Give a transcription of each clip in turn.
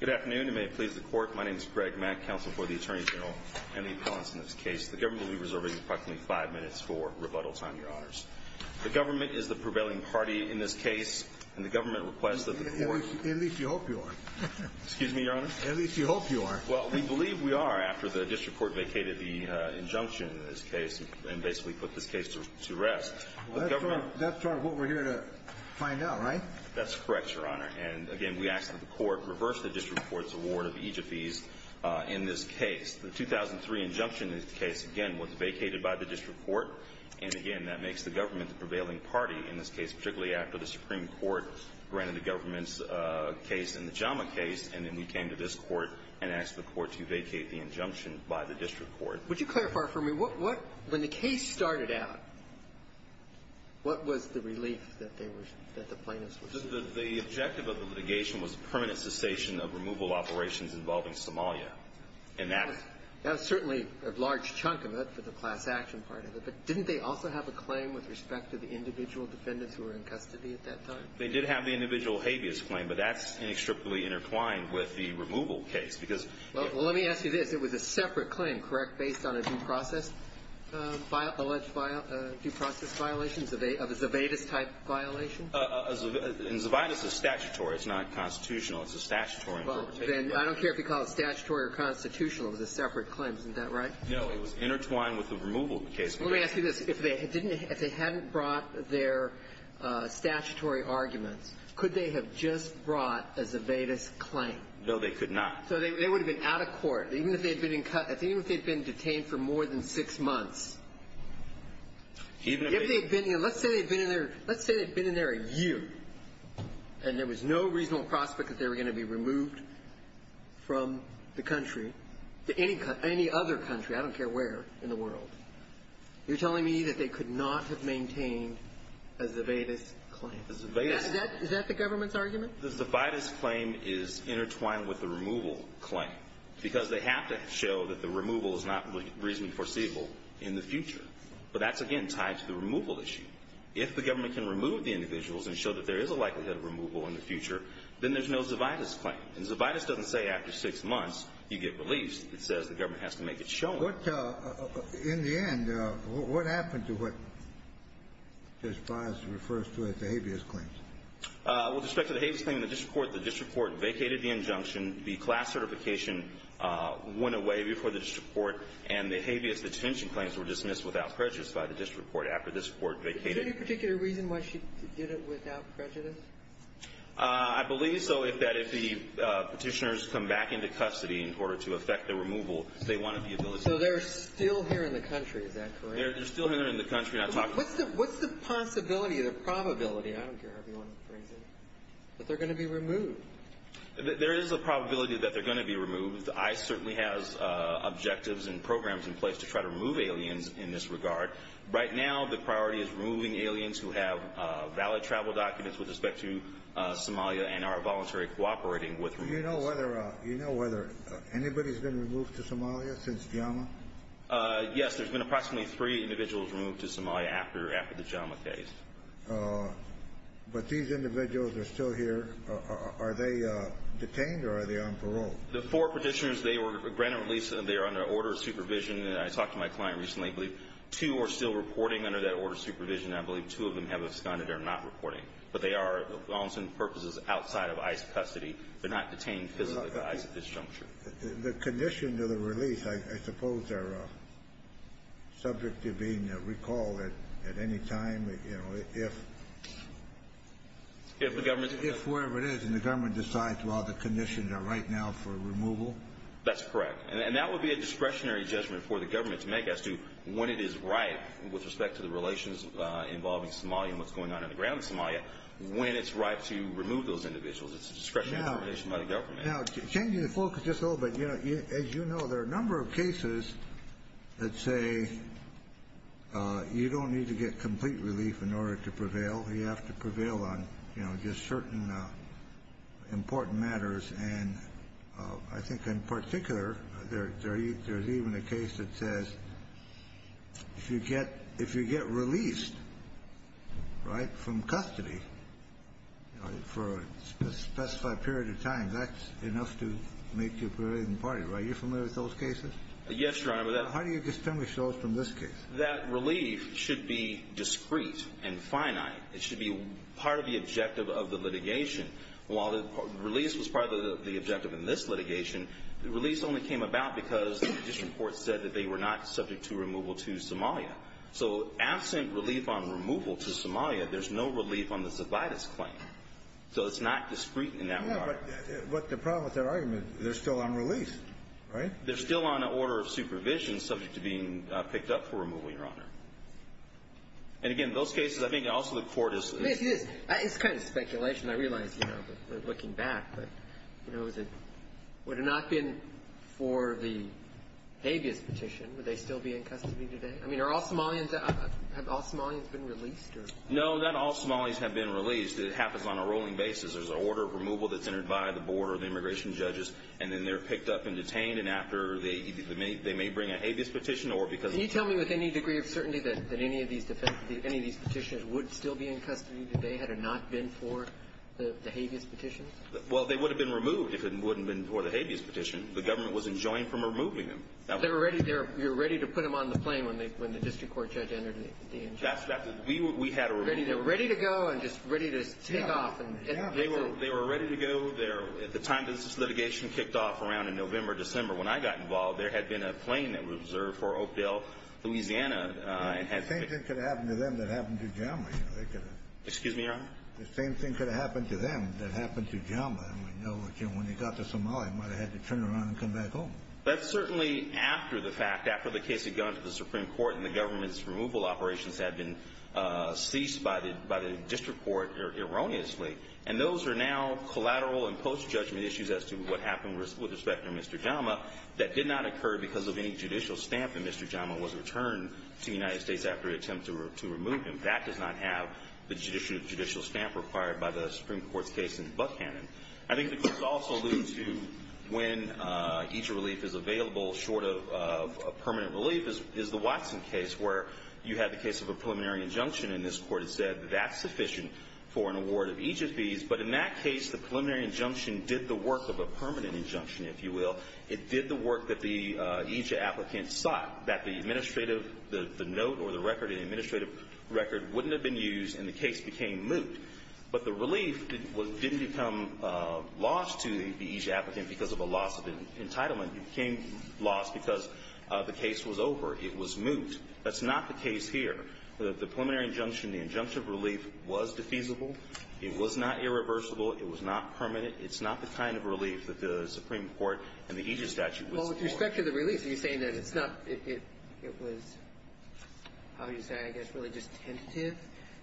Good afternoon, and may it please the court, my name is Greg Mack, counsel for the Attorney General, and the appellants in this case. The government will be reserving approximately five minutes for rebuttal time, your honors. The government is the prevailing party in this case, and the government requests that the court- At least you hope you are. Excuse me, your honor? At least you hope you are. Well, we believe we are after the district court vacated the injunction in this case, and basically put this case to rest. That's part of what we're here to find out, right? That's correct, your honor. And, again, we ask that the court reverse the district court's award of EGFEs in this case. The 2003 injunction in this case, again, was vacated by the district court. And, again, that makes the government the prevailing party in this case, particularly after the Supreme Court granted the government's case and the JAMA case, and then we came to this court and asked the court to vacate the injunction by the district court. Would you clarify for me, what, when the case started out, what was the relief that they were, that the plaintiffs were getting? The objective of the litigation was permanent cessation of removal operations involving Somalia. And that's- That's certainly a large chunk of it for the class action part of it, but didn't they also have a claim with respect to the individual defendants who were in custody at that time? They did have the individual habeas claim, but that's inextricably intertwined with the removal case because- Well, let me ask you this. It was a separate claim, correct, based on a due process, alleged due process violation, of a Zevedes-type violation? A Zevedes is statutory. It's not constitutional. It's a statutory interpretation. Well, then, I don't care if you call it statutory or constitutional. It was a separate claim. Isn't that right? No. It was intertwined with the removal case. Let me ask you this. If they didn't, if they hadn't brought their statutory arguments, could they have just brought a Zevedes claim? No, they could not. So they would have been out of court. Even if they had been in custody. Even if they had been detained for more than six months. Even if they- Let's say they had been in there a year, and there was no reasonable prospect that they were going to be removed from the country, any other country, I don't care where in the world. You're telling me that they could not have maintained a Zevedes claim. A Zevedes- Is that the government's argument? The Zevedes claim is intertwined with the removal claim, because they have to show that the removal is not reasonably foreseeable in the future. But that's, again, tied to the removal issue. If the government can remove the individuals and show that there is a likelihood of removal in the future, then there's no Zevedes claim. And Zevedes doesn't say after six months you get released. It says the government has to make it shown. In the end, what happened to what Justice Breyer refers to as the habeas claims? With respect to the habeas claim, the district court vacated the injunction. The class certification went away before the district court. And the habeas detention claims were dismissed without prejudice by the district court after the district court vacated. Is there any particular reason why she did it without prejudice? I believe so, that if the Petitioners come back into custody in order to effect the removal, they wanted the ability to- So they're still here in the country. Is that correct? They're still here in the country. What's the possibility, the probability? I don't care how you want to phrase it, that they're going to be removed. There is a probability that they're going to be removed. ICE certainly has objectives and programs in place to try to remove aliens in this regard. Right now, the priority is removing aliens who have valid travel documents with respect to Somalia and are voluntarily cooperating with- Do you know whether anybody's been removed to Somalia since JAMA? Yes, there's been approximately three individuals removed to Somalia after the JAMA case. But these individuals are still here. Are they detained, or are they on parole? The four Petitioners, they were granted release, and they are under order of supervision. I talked to my client recently. I believe two are still reporting under that order of supervision. I believe two of them have absconded. They're not reporting. But they are, for all intents and purposes, outside of ICE custody. They're not detained physically at this juncture. The conditions of the release, I suppose, are subject to being recalled at any time, if- If the government- If, wherever it is, and the government decides, well, the conditions are right now for removal. That's correct. And that would be a discretionary judgment for the government to make as to when it is right, with respect to the relations involving Somalia and what's going on in the ground in Somalia, when it's right to remove those individuals. It's a discretionary determination by the government. Now, changing the focus just a little bit, as you know, there are a number of cases that say you don't need to get complete relief in order to prevail. You have to prevail on, you know, just certain important matters. And I think, in particular, there's even a case that says if you get released, right, from custody for a specified period of time, that's enough to make you prevail in the party. Are you familiar with those cases? Yes, Your Honor, but that- How do you distinguish those from this case? That relief should be discreet and finite. It should be part of the objective of the litigation. While the release was part of the objective in this litigation, the release only came about because the district court said that they were not subject to removal to Somalia. So absent relief on removal to Somalia, there's no relief on the Zobitis claim. So it's not discreet in that regard. But the problem with that argument, they're still on release, right? They're still on an order of supervision subject to being picked up for removal, Your Honor. And, again, those cases, I think also the Court is- Yes, it is. It's kind of speculation. I realize, you know, looking back. But, you know, is it – would it not have been for the habeas petition, would they still be in custody today? I mean, are all Somalians – have all Somalians been released, or- No, not all Somalians have been released. It happens on a rolling basis. There's an order of removal that's entered by the board or the immigration judges, and then they're picked up and detained, and after they may bring a habeas petition or because of- Can you tell me with any degree of certainty that any of these petitioners would still be in custody today had it not been for the habeas petition? Well, they would have been removed if it hadn't been for the habeas petition. The government was enjoined from removing them. They were ready – you were ready to put them on the plane when the district court judge entered the- That's – we had a- They were ready to go and just ready to take off. They were ready to go. At the time that this litigation kicked off, around in November, December, when I got involved, there had been a plane that was reserved for Oakdale, Louisiana, and had- The same thing could have happened to them that happened to Jama, you know. Excuse me, Your Honor? The same thing could have happened to them that happened to Jama. And we know that when they got to Somalia, they might have had to turn around and come back home. That's certainly after the fact, after the case had gone to the Supreme Court and the government's removal operations had been ceased by the district court erroneously. And those are now collateral and post-judgment issues as to what happened with respect to Mr. Jama that did not occur because of any judicial stamp that Mr. Jama was returned to the United States after the attempt to remove him. That does not have the judicial stamp required by the Supreme Court's case in Buckhannon. I think the case also alludes to when EJIA relief is available short of permanent relief, is the Watson case where you had the case of a preliminary injunction, and this court had said that that's sufficient for an award of EJIA fees. But in that case, the preliminary injunction did the work of a permanent injunction, if you will. It did the work that the EJIA applicant sought, that the administrative, the note or the record, the administrative record wouldn't have been used, and the case became moot. But the relief didn't become lost to the EJIA applicant because of a loss of entitlement. It became lost because the case was over. It was moot. That's not the case here. The preliminary injunction, the injunctive relief was defeasible. It was not irreversible. It was not permanent. It's not the kind of relief that the Supreme Court and the EJIA statute would support. Well, with respect to the relief, are you saying that it's not – it was, how would you say, I guess, really just tentative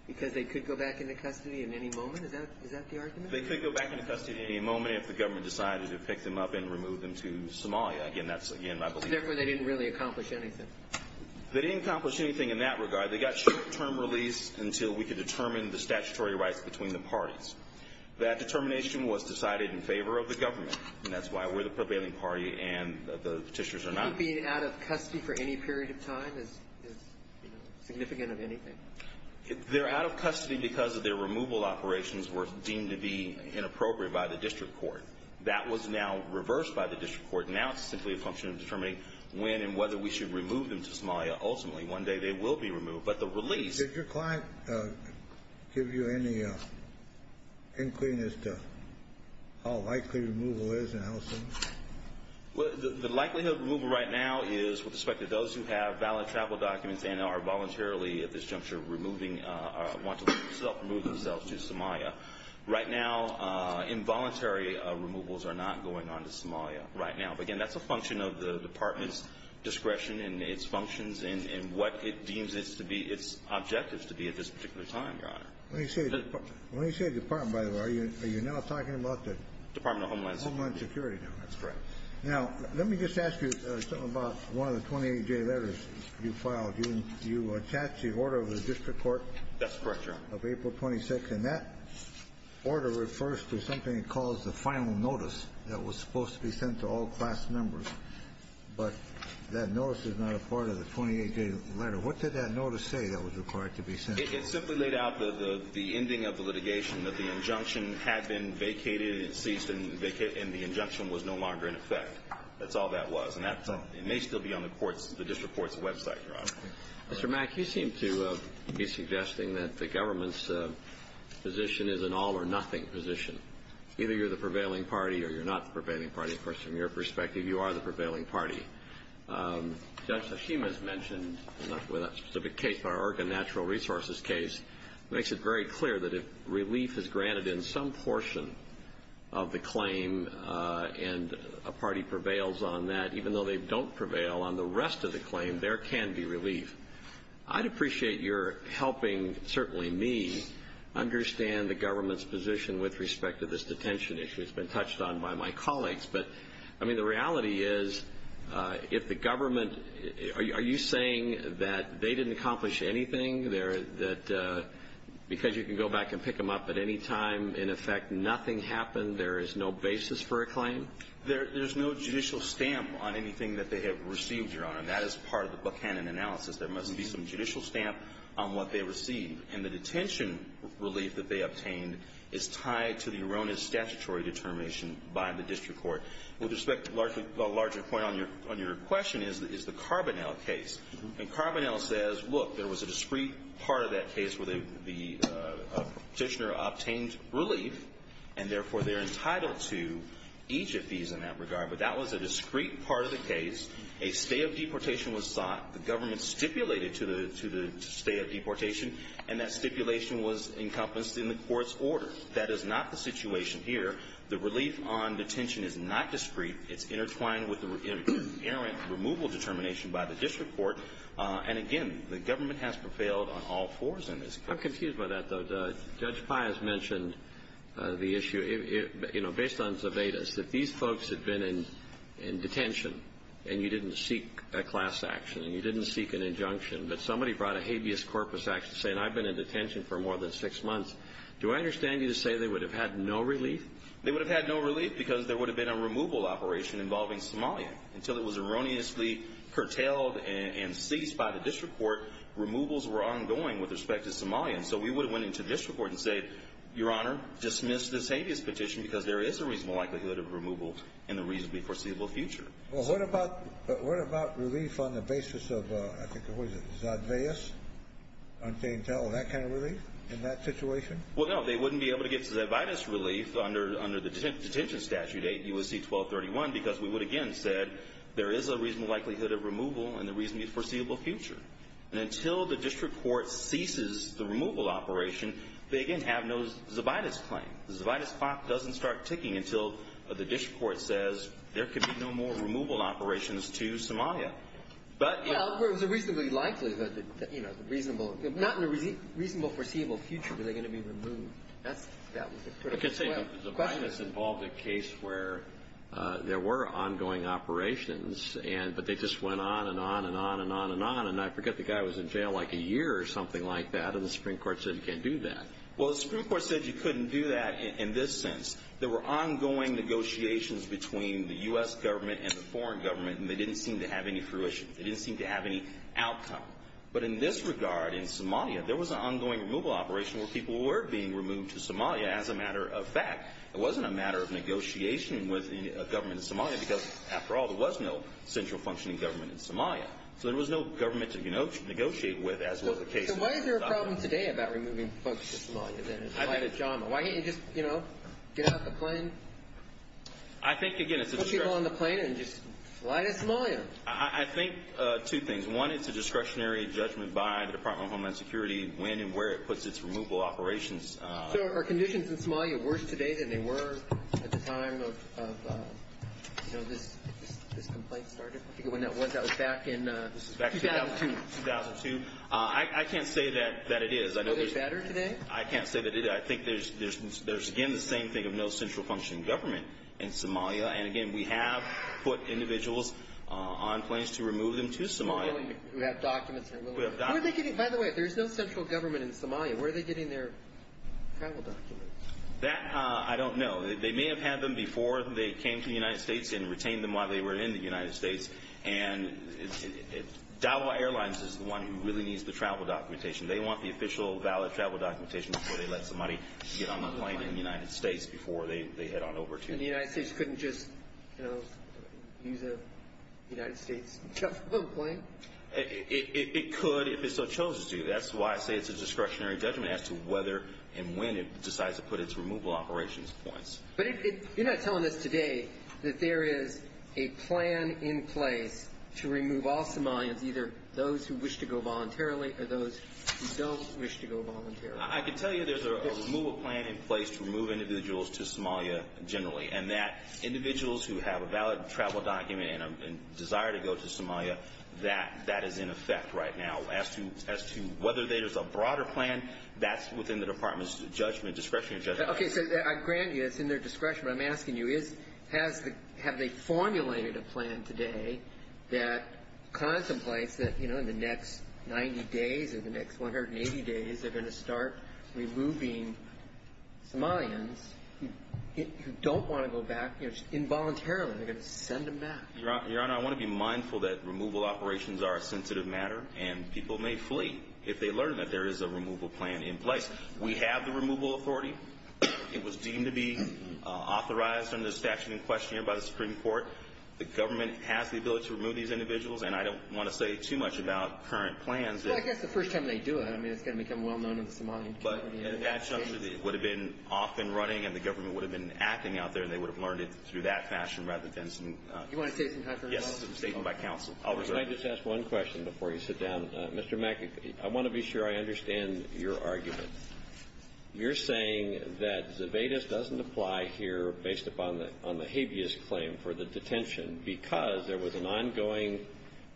because they could go back into custody at any moment? Is that the argument? They could go back into custody at any moment if the government decided to pick them up and remove them to Somalia. Again, that's – again, I believe – Therefore, they didn't really accomplish anything. They didn't accomplish anything in that regard. They got short-term release until we could determine the statutory rights between the parties. That determination was decided in favor of the government, and that's why we're the prevailing party and the Petitioners are not. The government being out of custody for any period of time is, you know, significant of anything. They're out of custody because their removal operations were deemed to be inappropriate by the district court. That was now reversed by the district court. Now it's simply a function of determining when and whether we should remove them to Somalia. Ultimately, one day they will be removed. But the release – Did your client give you any including as to how likely removal is and how soon? The likelihood of removal right now is with respect to those who have valid travel documents and are voluntarily at this juncture removing – want to remove themselves to Somalia. Right now, involuntary removals are not going on to Somalia right now. Again, that's a function of the department's discretion and its functions and what it deems its objectives to be at this particular time, Your Honor. When you say department, by the way, are you now talking about the – Department of Homeland Security. Department of Homeland Security, Your Honor. That's correct. Now let me just ask you something about one of the 28-day letters you filed. You attached the order of the district court. That's correct, Your Honor. Of April 26th, and that order refers to something it calls the final notice that was supposed to be sent to all class members. But that notice is not a part of the 28-day letter. What did that notice say that was required to be sent? It simply laid out the ending of the litigation, that the injunction had been vacated, it ceased, and the injunction was no longer in effect. That's all that was. And that may still be on the district court's website, Your Honor. Mr. Mack, you seem to be suggesting that the government's position is an all or nothing position. Either you're the prevailing party or you're not the prevailing party. Of course, from your perspective, you are the prevailing party. Judge Hashima has mentioned, not with that specific case, but our Oregon Natural Resources case, makes it very clear that if relief is granted in some portion of the claim and a party prevails on that, even though they don't prevail on the rest of the claim, there can be relief. I'd appreciate your helping, certainly me, understand the government's position with respect to this detention issue. It's been touched on by my colleagues. But, I mean, the reality is if the government – are you saying that they didn't accomplish anything, that because you can go back and pick them up at any time, in effect, nothing happened, there is no basis for a claim? There's no judicial stamp on anything that they have received, Your Honor. That is part of the Buchanan analysis. There must be some judicial stamp on what they received. And the detention relief that they obtained is tied to the erroneous statutory determination by the district court. With respect to the larger point on your question is the Carbonell case. And Carbonell says, look, there was a discrete part of that case where the petitioner obtained relief, and therefore they're entitled to each of these in that regard. But that was a discrete part of the case. A stay of deportation was sought. The government stipulated to the stay of deportation, and that stipulation was encompassed in the court's order. That is not the situation here. The relief on detention is not discrete. It's intertwined with the inherent removal determination by the district court. And, again, the government has prevailed on all fours in this case. I'm confused by that, though. Judge Pius mentioned the issue. You know, based on Zabetis, if these folks had been in detention and you didn't seek a class action, and you didn't seek an injunction, but somebody brought a habeas corpus action saying, I've been in detention for more than six months, do I understand you to say they would have had no relief? They would have had no relief because there would have been a removal operation involving Somalia. Until it was erroneously curtailed and ceased by the district court, removals were ongoing with respect to Somalia. And so we would have went into the district court and said, Your Honor, dismiss this habeas petition because there is a reasonable likelihood of removal in the reasonably foreseeable future. Well, what about relief on the basis of, I think, what was it, Zadveus? That kind of relief in that situation? Well, no, they wouldn't be able to get Zadveus relief under the detention statute, U.S.C. 1231, because we would, again, have said there is a reasonable likelihood of removal in the reasonably foreseeable future. And until the district court ceases the removal operation, they, again, have no Zabetis claim. The Zabetis clock doesn't start ticking until the district court says there could be no more removal operations to Somalia. Well, there was a reasonably likelihood that, you know, the reasonable Not in the reasonable foreseeable future were they going to be removed. That was the critical question. I can say the Zabetis involved a case where there were ongoing operations, but they just went on and on and on and on and on. And I forget, the guy was in jail like a year or something like that, and the Supreme Court said you can't do that. Well, the Supreme Court said you couldn't do that in this sense. There were ongoing negotiations between the U.S. government and the foreign government, and they didn't seem to have any fruition. They didn't seem to have any outcome. But in this regard, in Somalia, there was an ongoing removal operation where people were being removed to Somalia as a matter of fact. It wasn't a matter of negotiation with a government in Somalia because, after all, there was no central functioning government in Somalia. So there was no government to, you know, negotiate with as was the case. So why is there a problem today about removing folks to Somalia? Why can't you just, you know, get out the plane? I think, again, it's a discretionary. Put people on the plane and just fly to Somalia. I think two things. One, it's a discretionary judgment by the Department of Homeland Security when and where it puts its removal operations. So are conditions in Somalia worse today than they were at the time of, you know, this complaint started? I forget when that was. That was back in 2002. 2002. I can't say that it is. Are they better today? I can't say that it is. I think there's, again, the same thing of no central functioning government in Somalia. And, again, we have put individuals on planes to remove them to Somalia. Who have documents. By the way, if there's no central government in Somalia, where are they getting their travel documents? That I don't know. They may have had them before they came to the United States and retained them while they were in the United States. And Davao Airlines is the one who really needs the travel documentation. They want the official valid travel documentation before they let somebody get on a plane in the United States, before they head on over to the United States. And the United States couldn't just, you know, use a United States plane. It could if it so chose to. That's why I say it's a discretionary judgment as to whether and when it decides to put its removal operations points. But you're not telling us today that there is a plan in place to remove all Somalians, either those who wish to go voluntarily or those who don't wish to go voluntarily. I can tell you there's a removal plan in place to remove individuals to Somalia generally. And that individuals who have a valid travel document and a desire to go to Somalia, that is in effect right now. As to whether there's a broader plan, that's within the department's judgment, discretionary judgment. Okay, so I grant you it's in their discretion. But I'm asking you, have they formulated a plan today that contemplates that, you know, in the next 90 days or the next 180 days they're going to start removing Somalians who don't want to go back, you know, involuntarily. They're going to send them back. Your Honor, I want to be mindful that removal operations are a sensitive matter, and people may flee if they learn that there is a removal plan in place. We have the removal authority. It was deemed to be authorized under the statute in question here by the Supreme Court. The government has the ability to remove these individuals. And I don't want to say too much about current plans. Well, I guess the first time they do it, I mean, it's going to become well-known in the Somalian community. But it would have been off and running, and the government would have been acting out there, and they would have learned it through that fashion rather than some – Do you want to say something, Your Honor? Yes, it's a statement by counsel. I'll reserve it. Can I just ask one question before you sit down? Mr. Mackey, I want to be sure I understand your argument. You're saying that Zebedes doesn't apply here based upon the habeas claim for the detention because there was an ongoing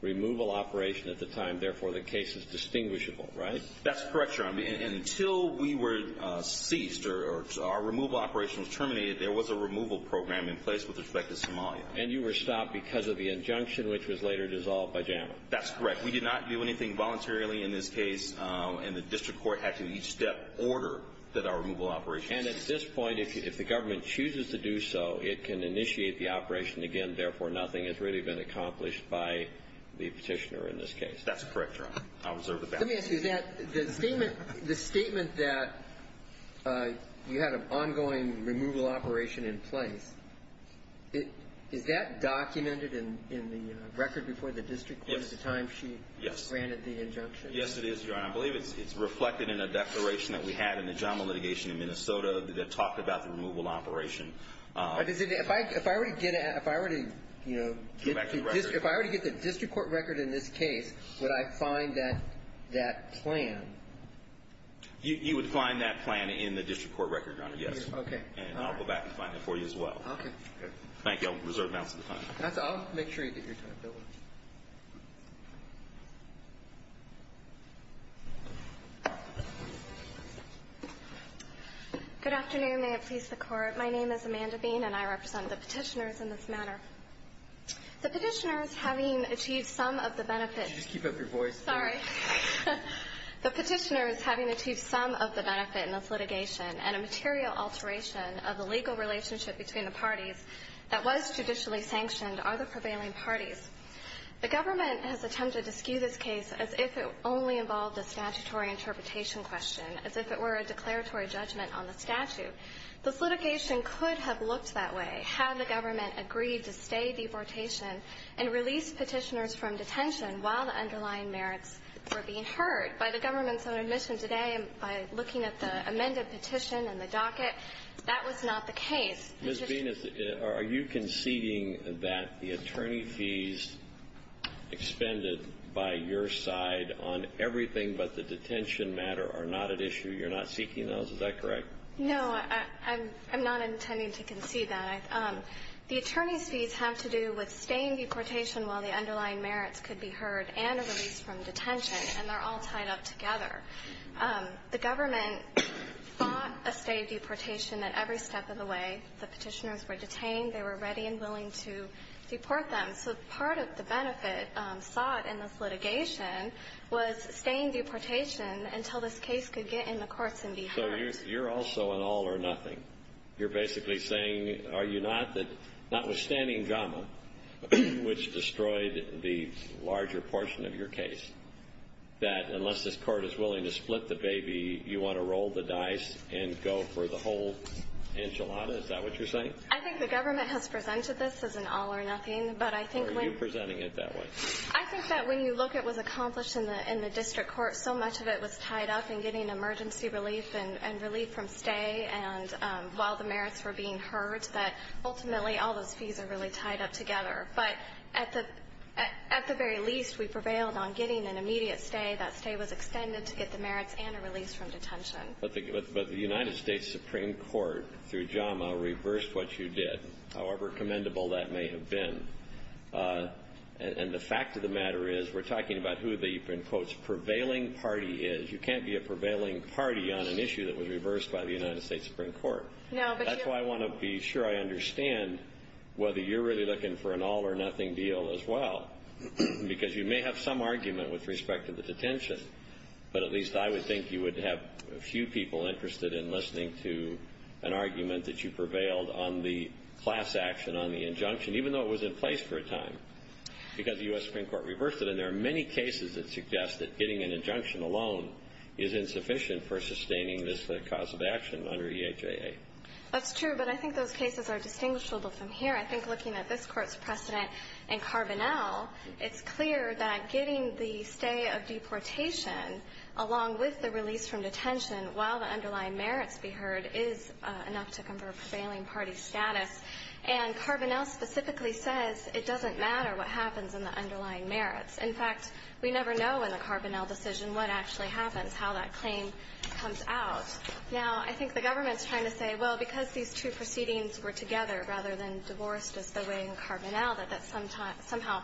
removal operation at the time, therefore the case is distinguishable, right? That's correct, Your Honor. Until we were ceased or our removal operation was terminated, there was a removal program in place with respect to Somalia. And you were stopped because of the injunction, which was later dissolved by JAMA. That's correct. We did not do anything voluntarily in this case, and the district court had to in each step order that our removal operation was terminated. And at this point, if the government chooses to do so, it can initiate the operation again, therefore nothing has really been accomplished by the petitioner in this case. That's correct, Your Honor. I'll reserve the balance. Let me ask you that. The statement that you had an ongoing removal operation in place, is that documented in the record before the district court at the time she granted the injunction? Yes, it is, Your Honor. I believe it's reflected in a declaration that we had in the JAMA litigation in Minnesota that talked about the removal operation. If I were to get the district court record in this case, would I find that plan? You would find that plan in the district court record, Your Honor, yes. Okay. And I'll go back and find it for you as well. Okay. Thank you. I'll reserve balance of the plan. I'll make sure you get your time. Good afternoon. May it please the Court. My name is Amanda Bean, and I represent the petitioners in this matter. The petitioners, having achieved some of the benefits. Could you just keep up your voice? Sorry. The petitioners, having achieved some of the benefit in this litigation, and a material alteration of the legal relationship between the parties that was judicially sanctioned, are the prevailing parties. The government has attempted to skew this case as if it only involved a statutory interpretation question, as if it were a declaratory judgment on the statute. This litigation could have looked that way had the government agreed to stay deportation and release petitioners from detention while the underlying merits were being heard. By the government's own admission today, by looking at the amended petition and the docket, that was not the case. Ms. Bean, are you conceding that the attorney fees expended by your side on everything but the detention matter are not at issue? You're not seeking those? Is that correct? No, I'm not intending to concede that. The attorney's fees have to do with staying deportation while the underlying merits could be heard and a release from detention, and they're all tied up together. The government sought a stay of deportation at every step of the way. The petitioners were detained. They were ready and willing to deport them. So part of the benefit sought in this litigation was staying deportation until this case could get in the courts and be heard. So you're also an all or nothing. You're basically saying, notwithstanding JAMA, which destroyed the larger portion of your case, that unless this court is willing to split the baby, you want to roll the dice and go for the whole enchilada? Is that what you're saying? I think the government has presented this as an all or nothing. Or are you presenting it that way? I think that when you look at what was accomplished in the district court, so much of it was tied up in getting emergency relief and relief from stay while the merits were being heard, that ultimately all those fees are really tied up together. But at the very least, we prevailed on getting an immediate stay. That stay was extended to get the merits and a release from detention. But the United States Supreme Court, through JAMA, reversed what you did, however commendable that may have been. And the fact of the matter is, we're talking about who the, in quotes, prevailing party is. You can't be a prevailing party on an issue that was reversed by the United States Supreme Court. That's why I want to be sure I understand whether you're really looking for an all or nothing deal as well. Because you may have some argument with respect to the detention. But at least I would think you would have a few people interested in listening to an argument that you prevailed on the class action, on the injunction, even though it was in place for a time, because the U.S. Supreme Court reversed it. And there are many cases that suggest that getting an injunction alone is insufficient for sustaining this cause of action under EHAA. That's true, but I think those cases are distinguishable from here. I think looking at this court's precedent in Carbonell, it's clear that getting the stay of deportation, along with the release from detention while the underlying merits be heard, is enough to convert prevailing party status. And Carbonell specifically says it doesn't matter what happens in the underlying merits. In fact, we never know in the Carbonell decision what actually happens, how that claim comes out. Now, I think the government's trying to say, well, because these two proceedings were together rather than divorced as they were in Carbonell, that that somehow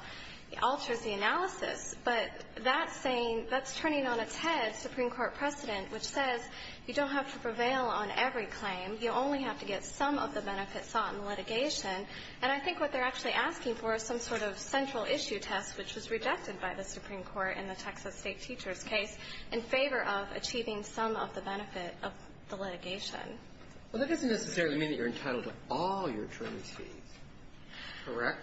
alters the analysis. But that's saying that's turning on its head Supreme Court precedent, which says you don't have to prevail on every claim. You only have to get some of the benefits sought in litigation. And I think what they're actually asking for is some sort of central issue test, which was rejected by the Supreme Court in the Texas State teachers' case, in favor of achieving some of the benefit of the litigation. Well, that doesn't necessarily mean that you're entitled to all your attorneys' fees, correct?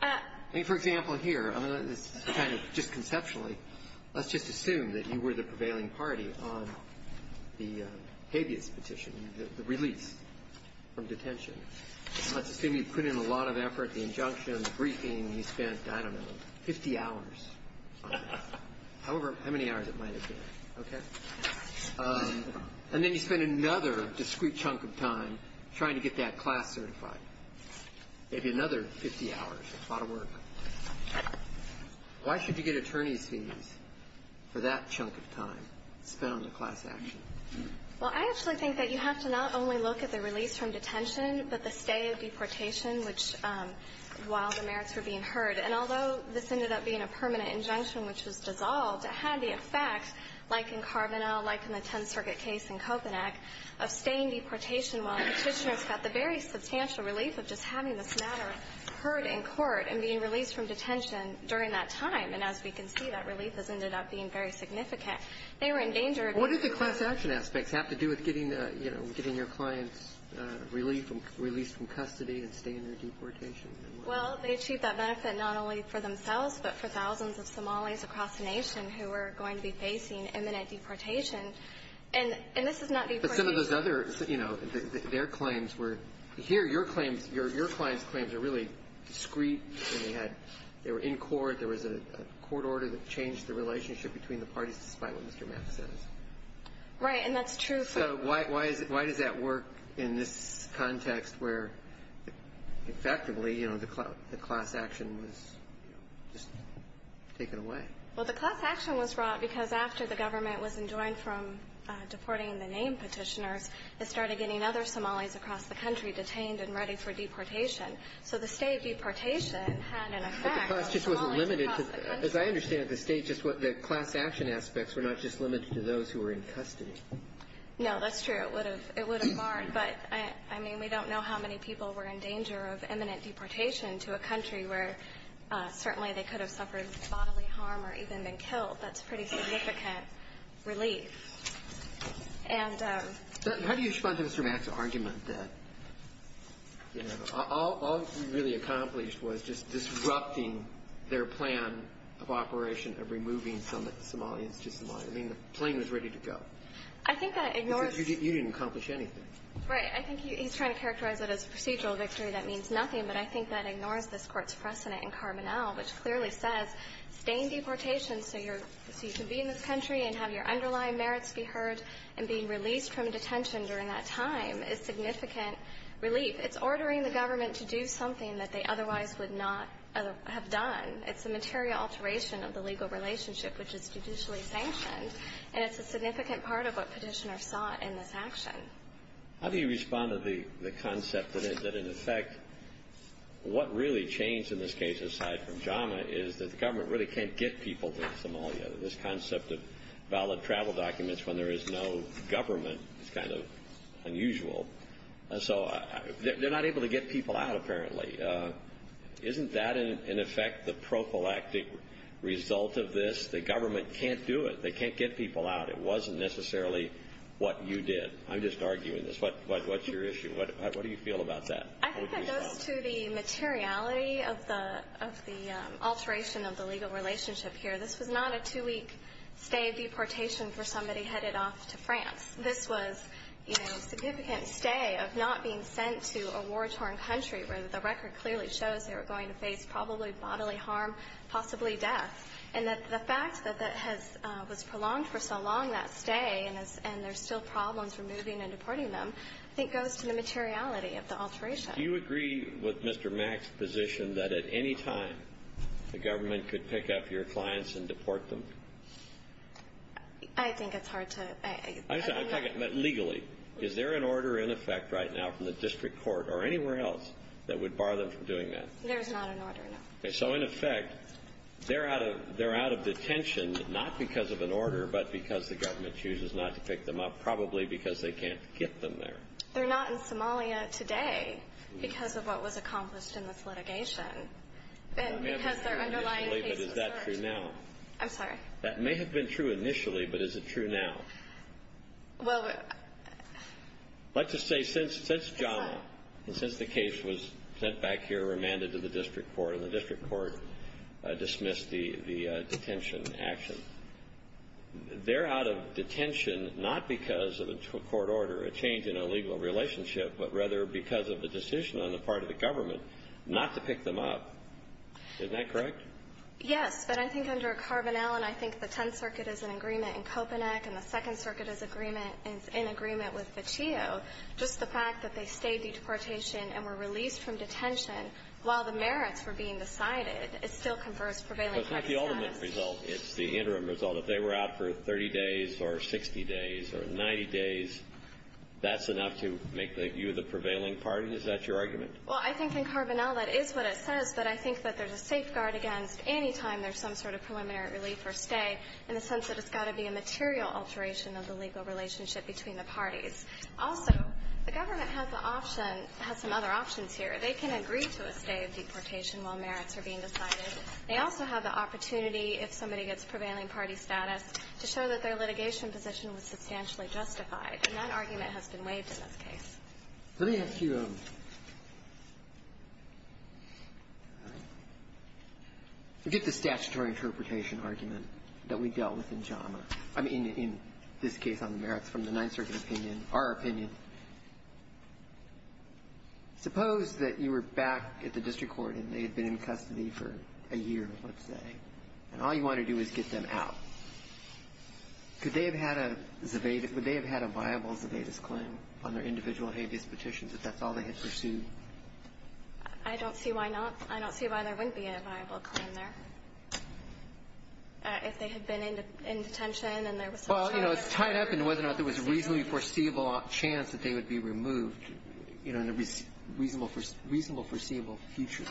I mean, for example, here, I'm going to kind of just conceptually, let's just assume that you were the prevailing party on the habeas petition, the release from detention. Let's assume you put in a lot of effort, the injunction, the briefing. You spent, I don't know, 50 hours on it, however many hours it might have been, okay? And then you spent another discrete chunk of time trying to get that class certified, maybe another 50 hours, a lot of work. Why should you get attorneys' fees for that chunk of time spent on the class action? Well, I actually think that you have to not only look at the release from detention, but the stay of deportation, which, while the merits were being heard. And although this ended up being a permanent injunction, which was dissolved, it had the effect, like in Carbonell, like in the Tenth Circuit case in Kopanek, of staying deportation while the petitioners got the very substantial relief of just the release from detention during that time. And as we can see, that relief has ended up being very significant. They were in danger of getting the class action. What did the class action aspects have to do with getting, you know, getting your clients released from custody and staying in their deportation? Well, they achieved that benefit not only for themselves, but for thousands of Somalis across the nation who were going to be facing imminent deportation. And this is not deportation. But some of those other, you know, their claims were here. Your clients' claims are really discreet. They were in court. There was a court order that changed the relationship between the parties, despite what Mr. Mathis said. Right. And that's true. So why does that work in this context where, effectively, you know, the class action was just taken away? Well, the class action was brought because after the government was enjoined from deporting the named petitioners, it started getting other Somalis across the country detained and ready for deportation. So the state deportation had an effect on Somalis across the country. But the class just wasn't limited to the – as I understand it, the state just – the class action aspects were not just limited to those who were in custody. No, that's true. It would have barred. But, I mean, we don't know how many people were in danger of imminent deportation to a country where certainly they could have suffered bodily harm or even been killed. That's pretty significant relief. And – How do you respond to Mr. Mathis' argument that, you know, all he really accomplished was just disrupting their plan of operation of removing some Somalians to Somalia? I mean, the plane was ready to go. I think that ignores – Because you didn't accomplish anything. Right. I think he's trying to characterize it as a procedural victory. That means nothing. But I think that ignores this Court's precedent in Carbonell, which clearly says staying deportation so you can be in this country and have your underlying merits be heard and being released from detention during that time is significant relief. It's ordering the government to do something that they otherwise would not have done. It's a material alteration of the legal relationship, which is judicially sanctioned, and it's a significant part of what petitioners sought in this action. How do you respond to the concept that, in effect, what really changed in this case, aside from JAMA, is that the government really can't get people to Somalia? This concept of valid travel documents when there is no government is kind of unusual. And so they're not able to get people out, apparently. Isn't that, in effect, the prophylactic result of this? The government can't do it. They can't get people out. It wasn't necessarily what you did. I'm just arguing this. What's your issue? What do you feel about that? I think that goes to the materiality of the alteration of the legal relationship here. This was not a two-week stay deportation for somebody headed off to France. This was a significant stay of not being sent to a war-torn country where the record clearly shows they were going to face probably bodily harm, possibly death. And the fact that that was prolonged for so long, that stay, and there's still problems removing and deporting them, I think goes to the materiality of the alteration. Do you agree with Mr. Mack's position that, at any time, the government could pick up your clients and deport them? I think it's hard to – I'm just talking about legally. Is there an order in effect right now from the district court or anywhere else that would bar them from doing that? There is not an order, no. So, in effect, they're out of detention not because of an order but because the government chooses not to pick them up, but probably because they can't get them there. They're not in Somalia today because of what was accomplished in this litigation and because their underlying case was charged. Is that true now? I'm sorry? That may have been true initially, but is it true now? Well, we're – Let's just say since John and since the case was sent back here, remanded to the district court, and the district court dismissed the detention action, they're out of detention not because of a court order, a change in a legal relationship, but rather because of the decision on the part of the government not to pick them up. Isn't that correct? Yes. But I think under Carbonell, and I think the Tenth Circuit is in agreement in Kopanek, and the Second Circuit is in agreement with Vecchio, just the fact that they stayed due to deportation and were released from detention So it's not the ultimate result. It's the interim result. If they were out for 30 days or 60 days or 90 days, that's enough to make you the prevailing party? Is that your argument? Well, I think in Carbonell that is what it says, but I think that there's a safeguard against any time there's some sort of preliminary relief or stay in the sense that it's got to be a material alteration of the legal relationship between the parties. Also, the government has the option – has some other options here. They can agree to a stay of deportation while merits are being decided. They also have the opportunity, if somebody gets prevailing party status, to show that their litigation position was substantially justified. And that argument has been waived in this case. Let me ask you – get the statutory interpretation argument that we dealt with in JAMA – I mean, in this case on the merits from the Ninth Circuit opinion, our opinion. Suppose that you were back at the district court and they had been in custody for a year, let's say, and all you want to do is get them out. Could they have had a viable Zebedes claim on their individual habeas petitions, if that's all they had pursued? I don't see why not. I don't see why there wouldn't be a viable claim there. If they had been in detention and there was some – Well, you know, it's tied up in whether or not there was a reasonably foreseeable chance that they would be removed in a reasonable foreseeable future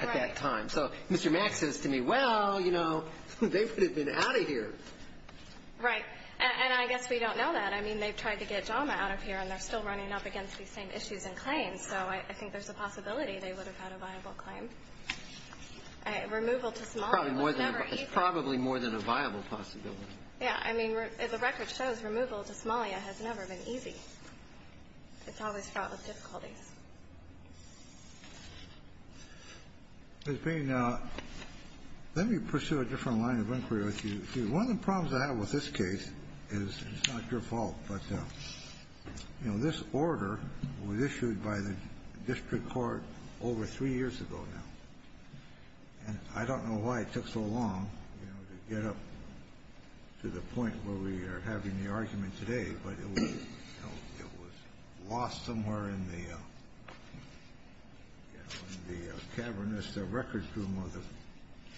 at that time. So Mr. Mack says to me, well, you know, they would have been out of here. Right. And I guess we don't know that. I mean, they've tried to get JAMA out of here, and they're still running up against these same issues and claims. So I think there's a possibility they would have had a viable claim. Removal to Somalia was never easy. It's probably more than a viable possibility. Yeah. I mean, the record shows removal to Somalia has never been easy. It's always fraught with difficulties. Let me pursue a different line of inquiry with you. One of the problems I have with this case is it's not your fault, but, you know, this order was issued by the district court over three years ago now. And I don't know why it took so long to get up to the point where we are having the argument today, but it was lost somewhere in the cavernous records room of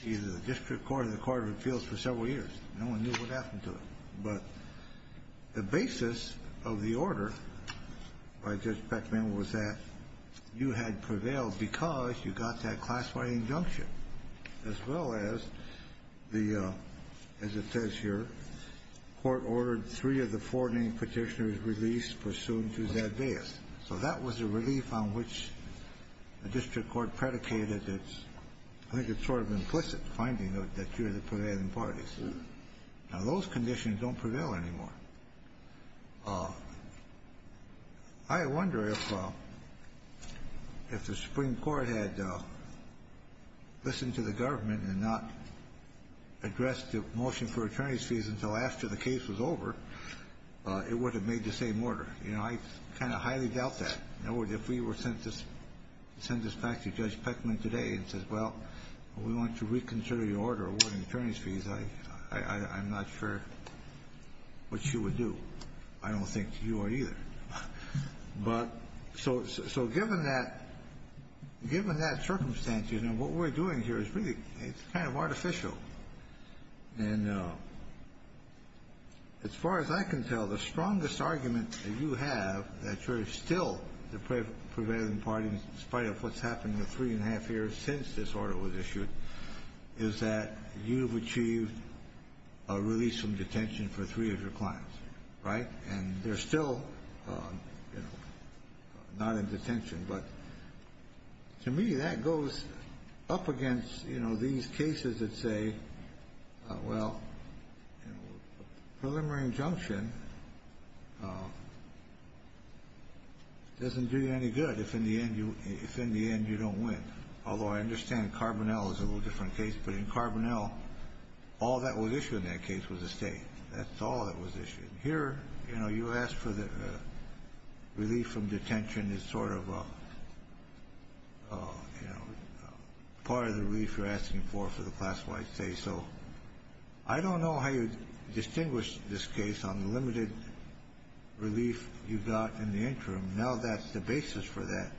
either the district court or the court of appeals for several years. No one knew what happened to it. But the basis of the order by Judge Beckman was that you had prevailed because you got that class-wide injunction, as well as the, as it says here, court ordered three of the four named petitioners released pursuant to that bias. So that was a relief on which the district court predicated its, I think it's sort of implicit finding that you're the prevailing parties. Now, those conditions don't prevail anymore. I wonder if the Supreme Court had listened to the government and not addressed the motion for attorney's fees until after the case was over, it would have made the same order. You know, I kind of highly doubt that. In other words, if we were sent this back to Judge Beckman today and said, well, we want to reconsider the order awarding attorney's fees, I'm not sure what she would do. I don't think you are either. But so given that circumstance, you know, what we're doing here is really kind of artificial. And as far as I can tell, the strongest argument that you have, that you're still the prevailing parties, in spite of what's happened in the three and a half years since this order was issued, is that you've achieved a release from detention for three of your clients, right? And they're still, you know, not in detention. But to me, that goes up against, you know, these cases that say, well, preliminary injunction doesn't do you any good if in the end you don't win. Although I understand Carbonell is a little different case. But in Carbonell, all that was issued in that case was a state. That's all that was issued. Here, you know, you asked for the relief from detention as sort of a, you know, part of the relief you're asking for for the class-wide state. So I don't know how you distinguish this case on the limited relief you got in the interim. Now that the basis for that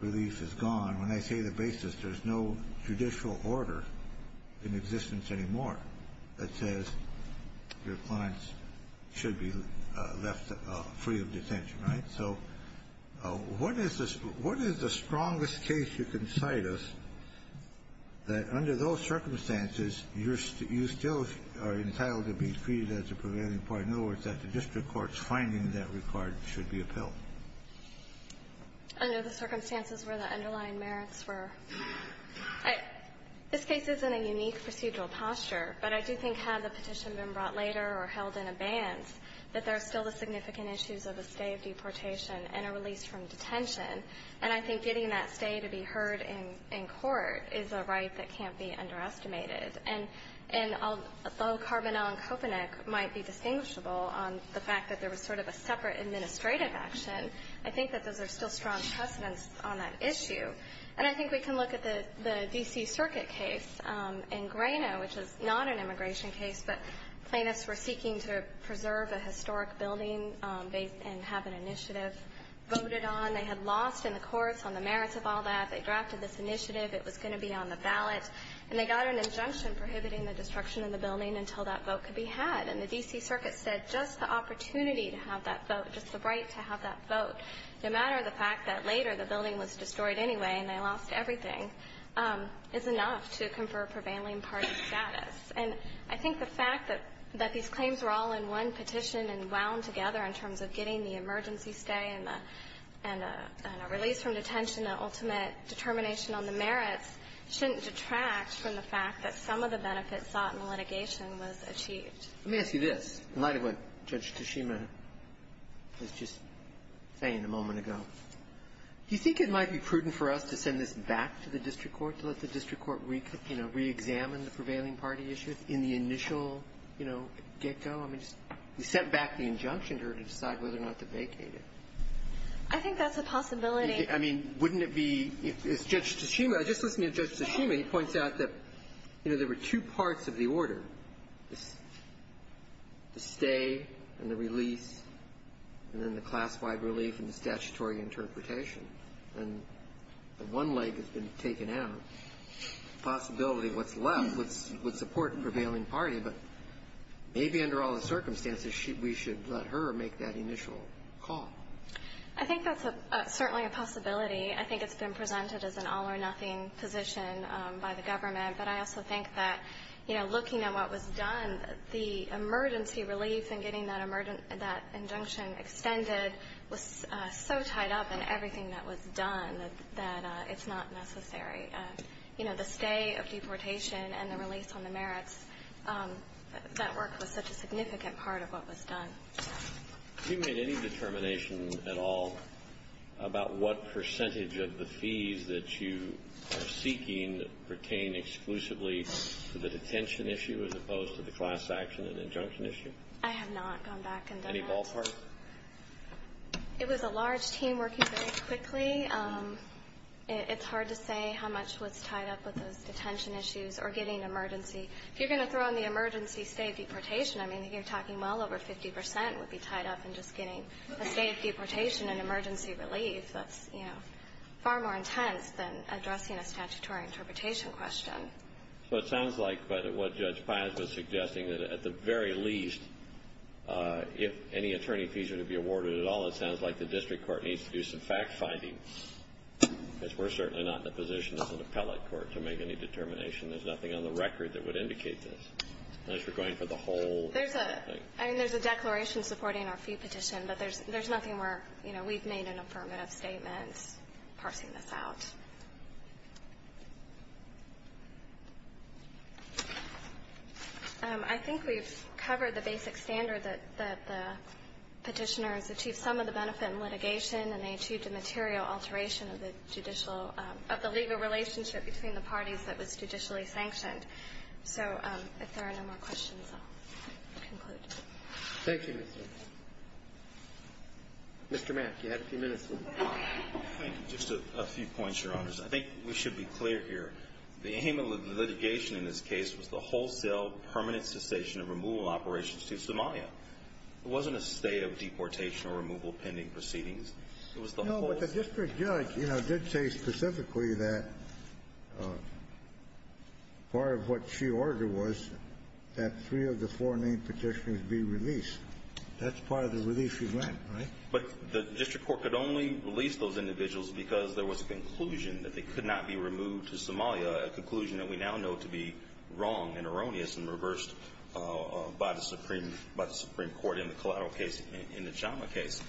relief is gone. When I say the basis, there's no judicial order in existence anymore that says your clients should be left free of detention, right? So what is the strongest case you can cite us that, under those circumstances, you still are entitled to be treated as a prevailing part? In other words, that the district court's finding that required should be upheld. Under the circumstances where the underlying merits were. This case is in a unique procedural posture. But I do think had the petition been brought later or held in abeyance, that there are still the significant issues of a stay of deportation and a release from detention. And I think getting that stay to be heard in court is a right that can't be underestimated. And although Carbonell and Kopanek might be distinguishable on the fact that there was sort of a separate administrative action, I think that there's still strong precedence on that issue. And I think we can look at the D.C. Circuit case in Grano, which is not an immigration case, but plaintiffs were seeking to preserve a historic building and have an initiative voted on. They had lost in the courts on the merits of all that. They drafted this initiative. It was going to be on the ballot. And they got an injunction prohibiting the destruction of the building until that vote could be had. And the D.C. Circuit said just the opportunity to have that vote, just the right to have that vote, no matter the fact that later the building was destroyed anyway and they lost everything, is enough to confer prevailing party status. And I think the fact that these claims were all in one petition and wound together in terms of getting the emergency stay and the release from detention, the ultimate determination on the merits, shouldn't detract from the fact that some of the benefits sought in the litigation was achieved. Let me ask you this, in light of what Judge Tshishima was just saying a moment ago. Do you think it might be prudent for us to send this back to the district court to let the district court, you know, reexamine the prevailing party issues in the initial, you know, get-go? I mean, we sent back the injunction to her to decide whether or not to vacate it. I think that's a possibility. I mean, wouldn't it be, if Judge Tshishima, just listening to Judge Tshishima, he points out that, you know, there were two parts of the order, the stay and the release and then the class-wide relief and the statutory interpretation. And the one leg has been taken out. The possibility of what's left would support the prevailing party, but maybe under all the circumstances, we should let her make that initial call. I think that's certainly a possibility. I think it's been presented as an all-or-nothing position by the government. But I also think that, you know, looking at what was done, the emergency relief and getting that injunction extended was so tied up in everything that was done that it's not necessary. You know, the stay of deportation and the release on the merits, that work was such a significant part of what was done. Have you made any determination at all about what percentage of the fees that you are seeking pertain exclusively to the detention issue as opposed to the class action and injunction issue? I have not gone back and done that. Any ballpark? It was a large team working very quickly. It's hard to say how much was tied up with those detention issues or getting emergency. If you're going to throw in the emergency stay deportation, I mean, you're talking well over 50% would be tied up in just getting a stay of deportation and emergency relief. That's, you know, far more intense than addressing a statutory interpretation question. So it sounds like what Judge Paz was suggesting, that at the very least, if any attorney fees are to be awarded at all, it sounds like the district court needs to do some fact-finding. Because we're certainly not in a position as an appellate court to make any determination. There's nothing on the record that would indicate this. Unless you're going for the whole thing. I mean, there's a declaration supporting our fee petition, but there's nothing where, you know, we've made an affirmative statement parsing this out. I think we've covered the basic standard that the Petitioners achieved some of the benefit in litigation, and they achieved a material alteration of the judicial of the legal relationship between the parties that was judicially sanctioned. So, if there are no more questions, I'll conclude. Thank you, Mr. Mapp. Mr. Mapp, you have a few minutes. Thank you. Just a few points, Your Honors. I think we should be clear here. The aim of the litigation in this case was the wholesale permanent cessation of removal operations to Somalia. It wasn't a stay of deportation or removal pending proceedings. It was the wholesale. The district judge, you know, did say specifically that part of what she ordered was that three of the four named Petitioners be released. That's part of the release you want, right? But the district court could only release those individuals because there was a conclusion that they could not be removed to Somalia, a conclusion that we now know to be wrong and erroneous and reversed by the Supreme Court in the collateral case, in the Chama case.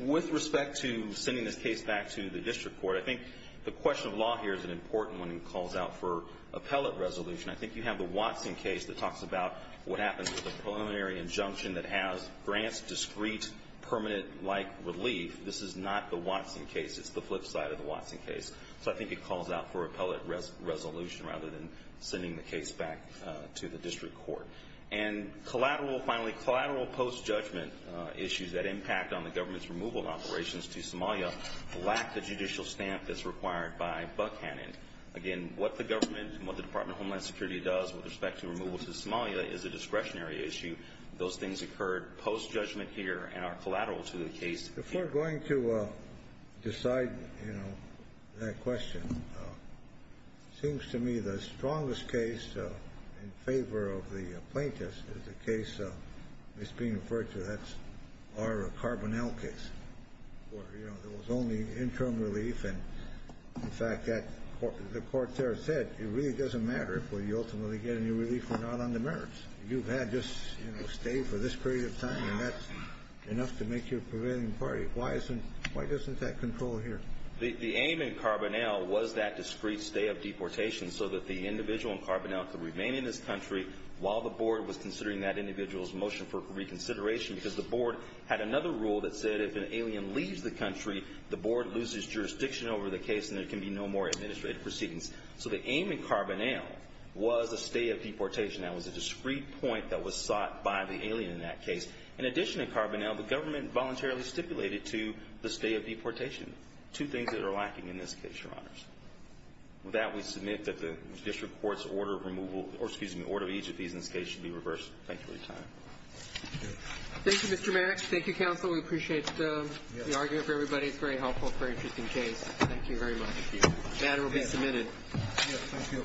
With respect to sending this case back to the district court, I think the question of law here is an important one. It calls out for appellate resolution. I think you have the Watson case that talks about what happens with a preliminary injunction that has grants, discrete, permanent-like relief. This is not the Watson case. It's the flip side of the Watson case. So, I think it calls out for appellate resolution rather than sending the case back to the district court. And, finally, collateral post-judgment issues that impact on the government's removal operations to Somalia lack the judicial stamp that's required by Buckhannon. Again, what the government and what the Department of Homeland Security does with respect to removal to Somalia is a discretionary issue. Those things occurred post-judgment here and are collateral to the case. If we're going to decide, you know, that question, it seems to me the strongest case in favor of the plaintiffs is the case that's being referred to. That's our Carbonell case, where, you know, there was only interim relief. And, in fact, the court there said it really doesn't matter if we ultimately get any relief or not on the merits. You've had this, you know, stay for this period of time, and that's enough to make your prevailing party. Why isn't that control here? The aim in Carbonell was that discrete stay of deportation so that the individual in Carbonell could remain in this country while the board was considering that individual's motion for reconsideration because the board had another rule that said if an alien leaves the country, the board loses jurisdiction over the case and there can be no more administrative proceedings. So the aim in Carbonell was a stay of deportation. That was a discrete point that was sought by the alien in that case. In addition to Carbonell, the government voluntarily stipulated to the stay of deportation, two things that are lacking in this case, Your Honors. With that, we submit that the district court's order of removal or, excuse me, order of each of these in this case should be reversed. Thank you for your time. Roberts. Thank you, Mr. Mannix. Thank you, counsel. We appreciate the argument for everybody. It's very helpful, very interesting case. Thank you very much. The matter will be submitted. Thank you.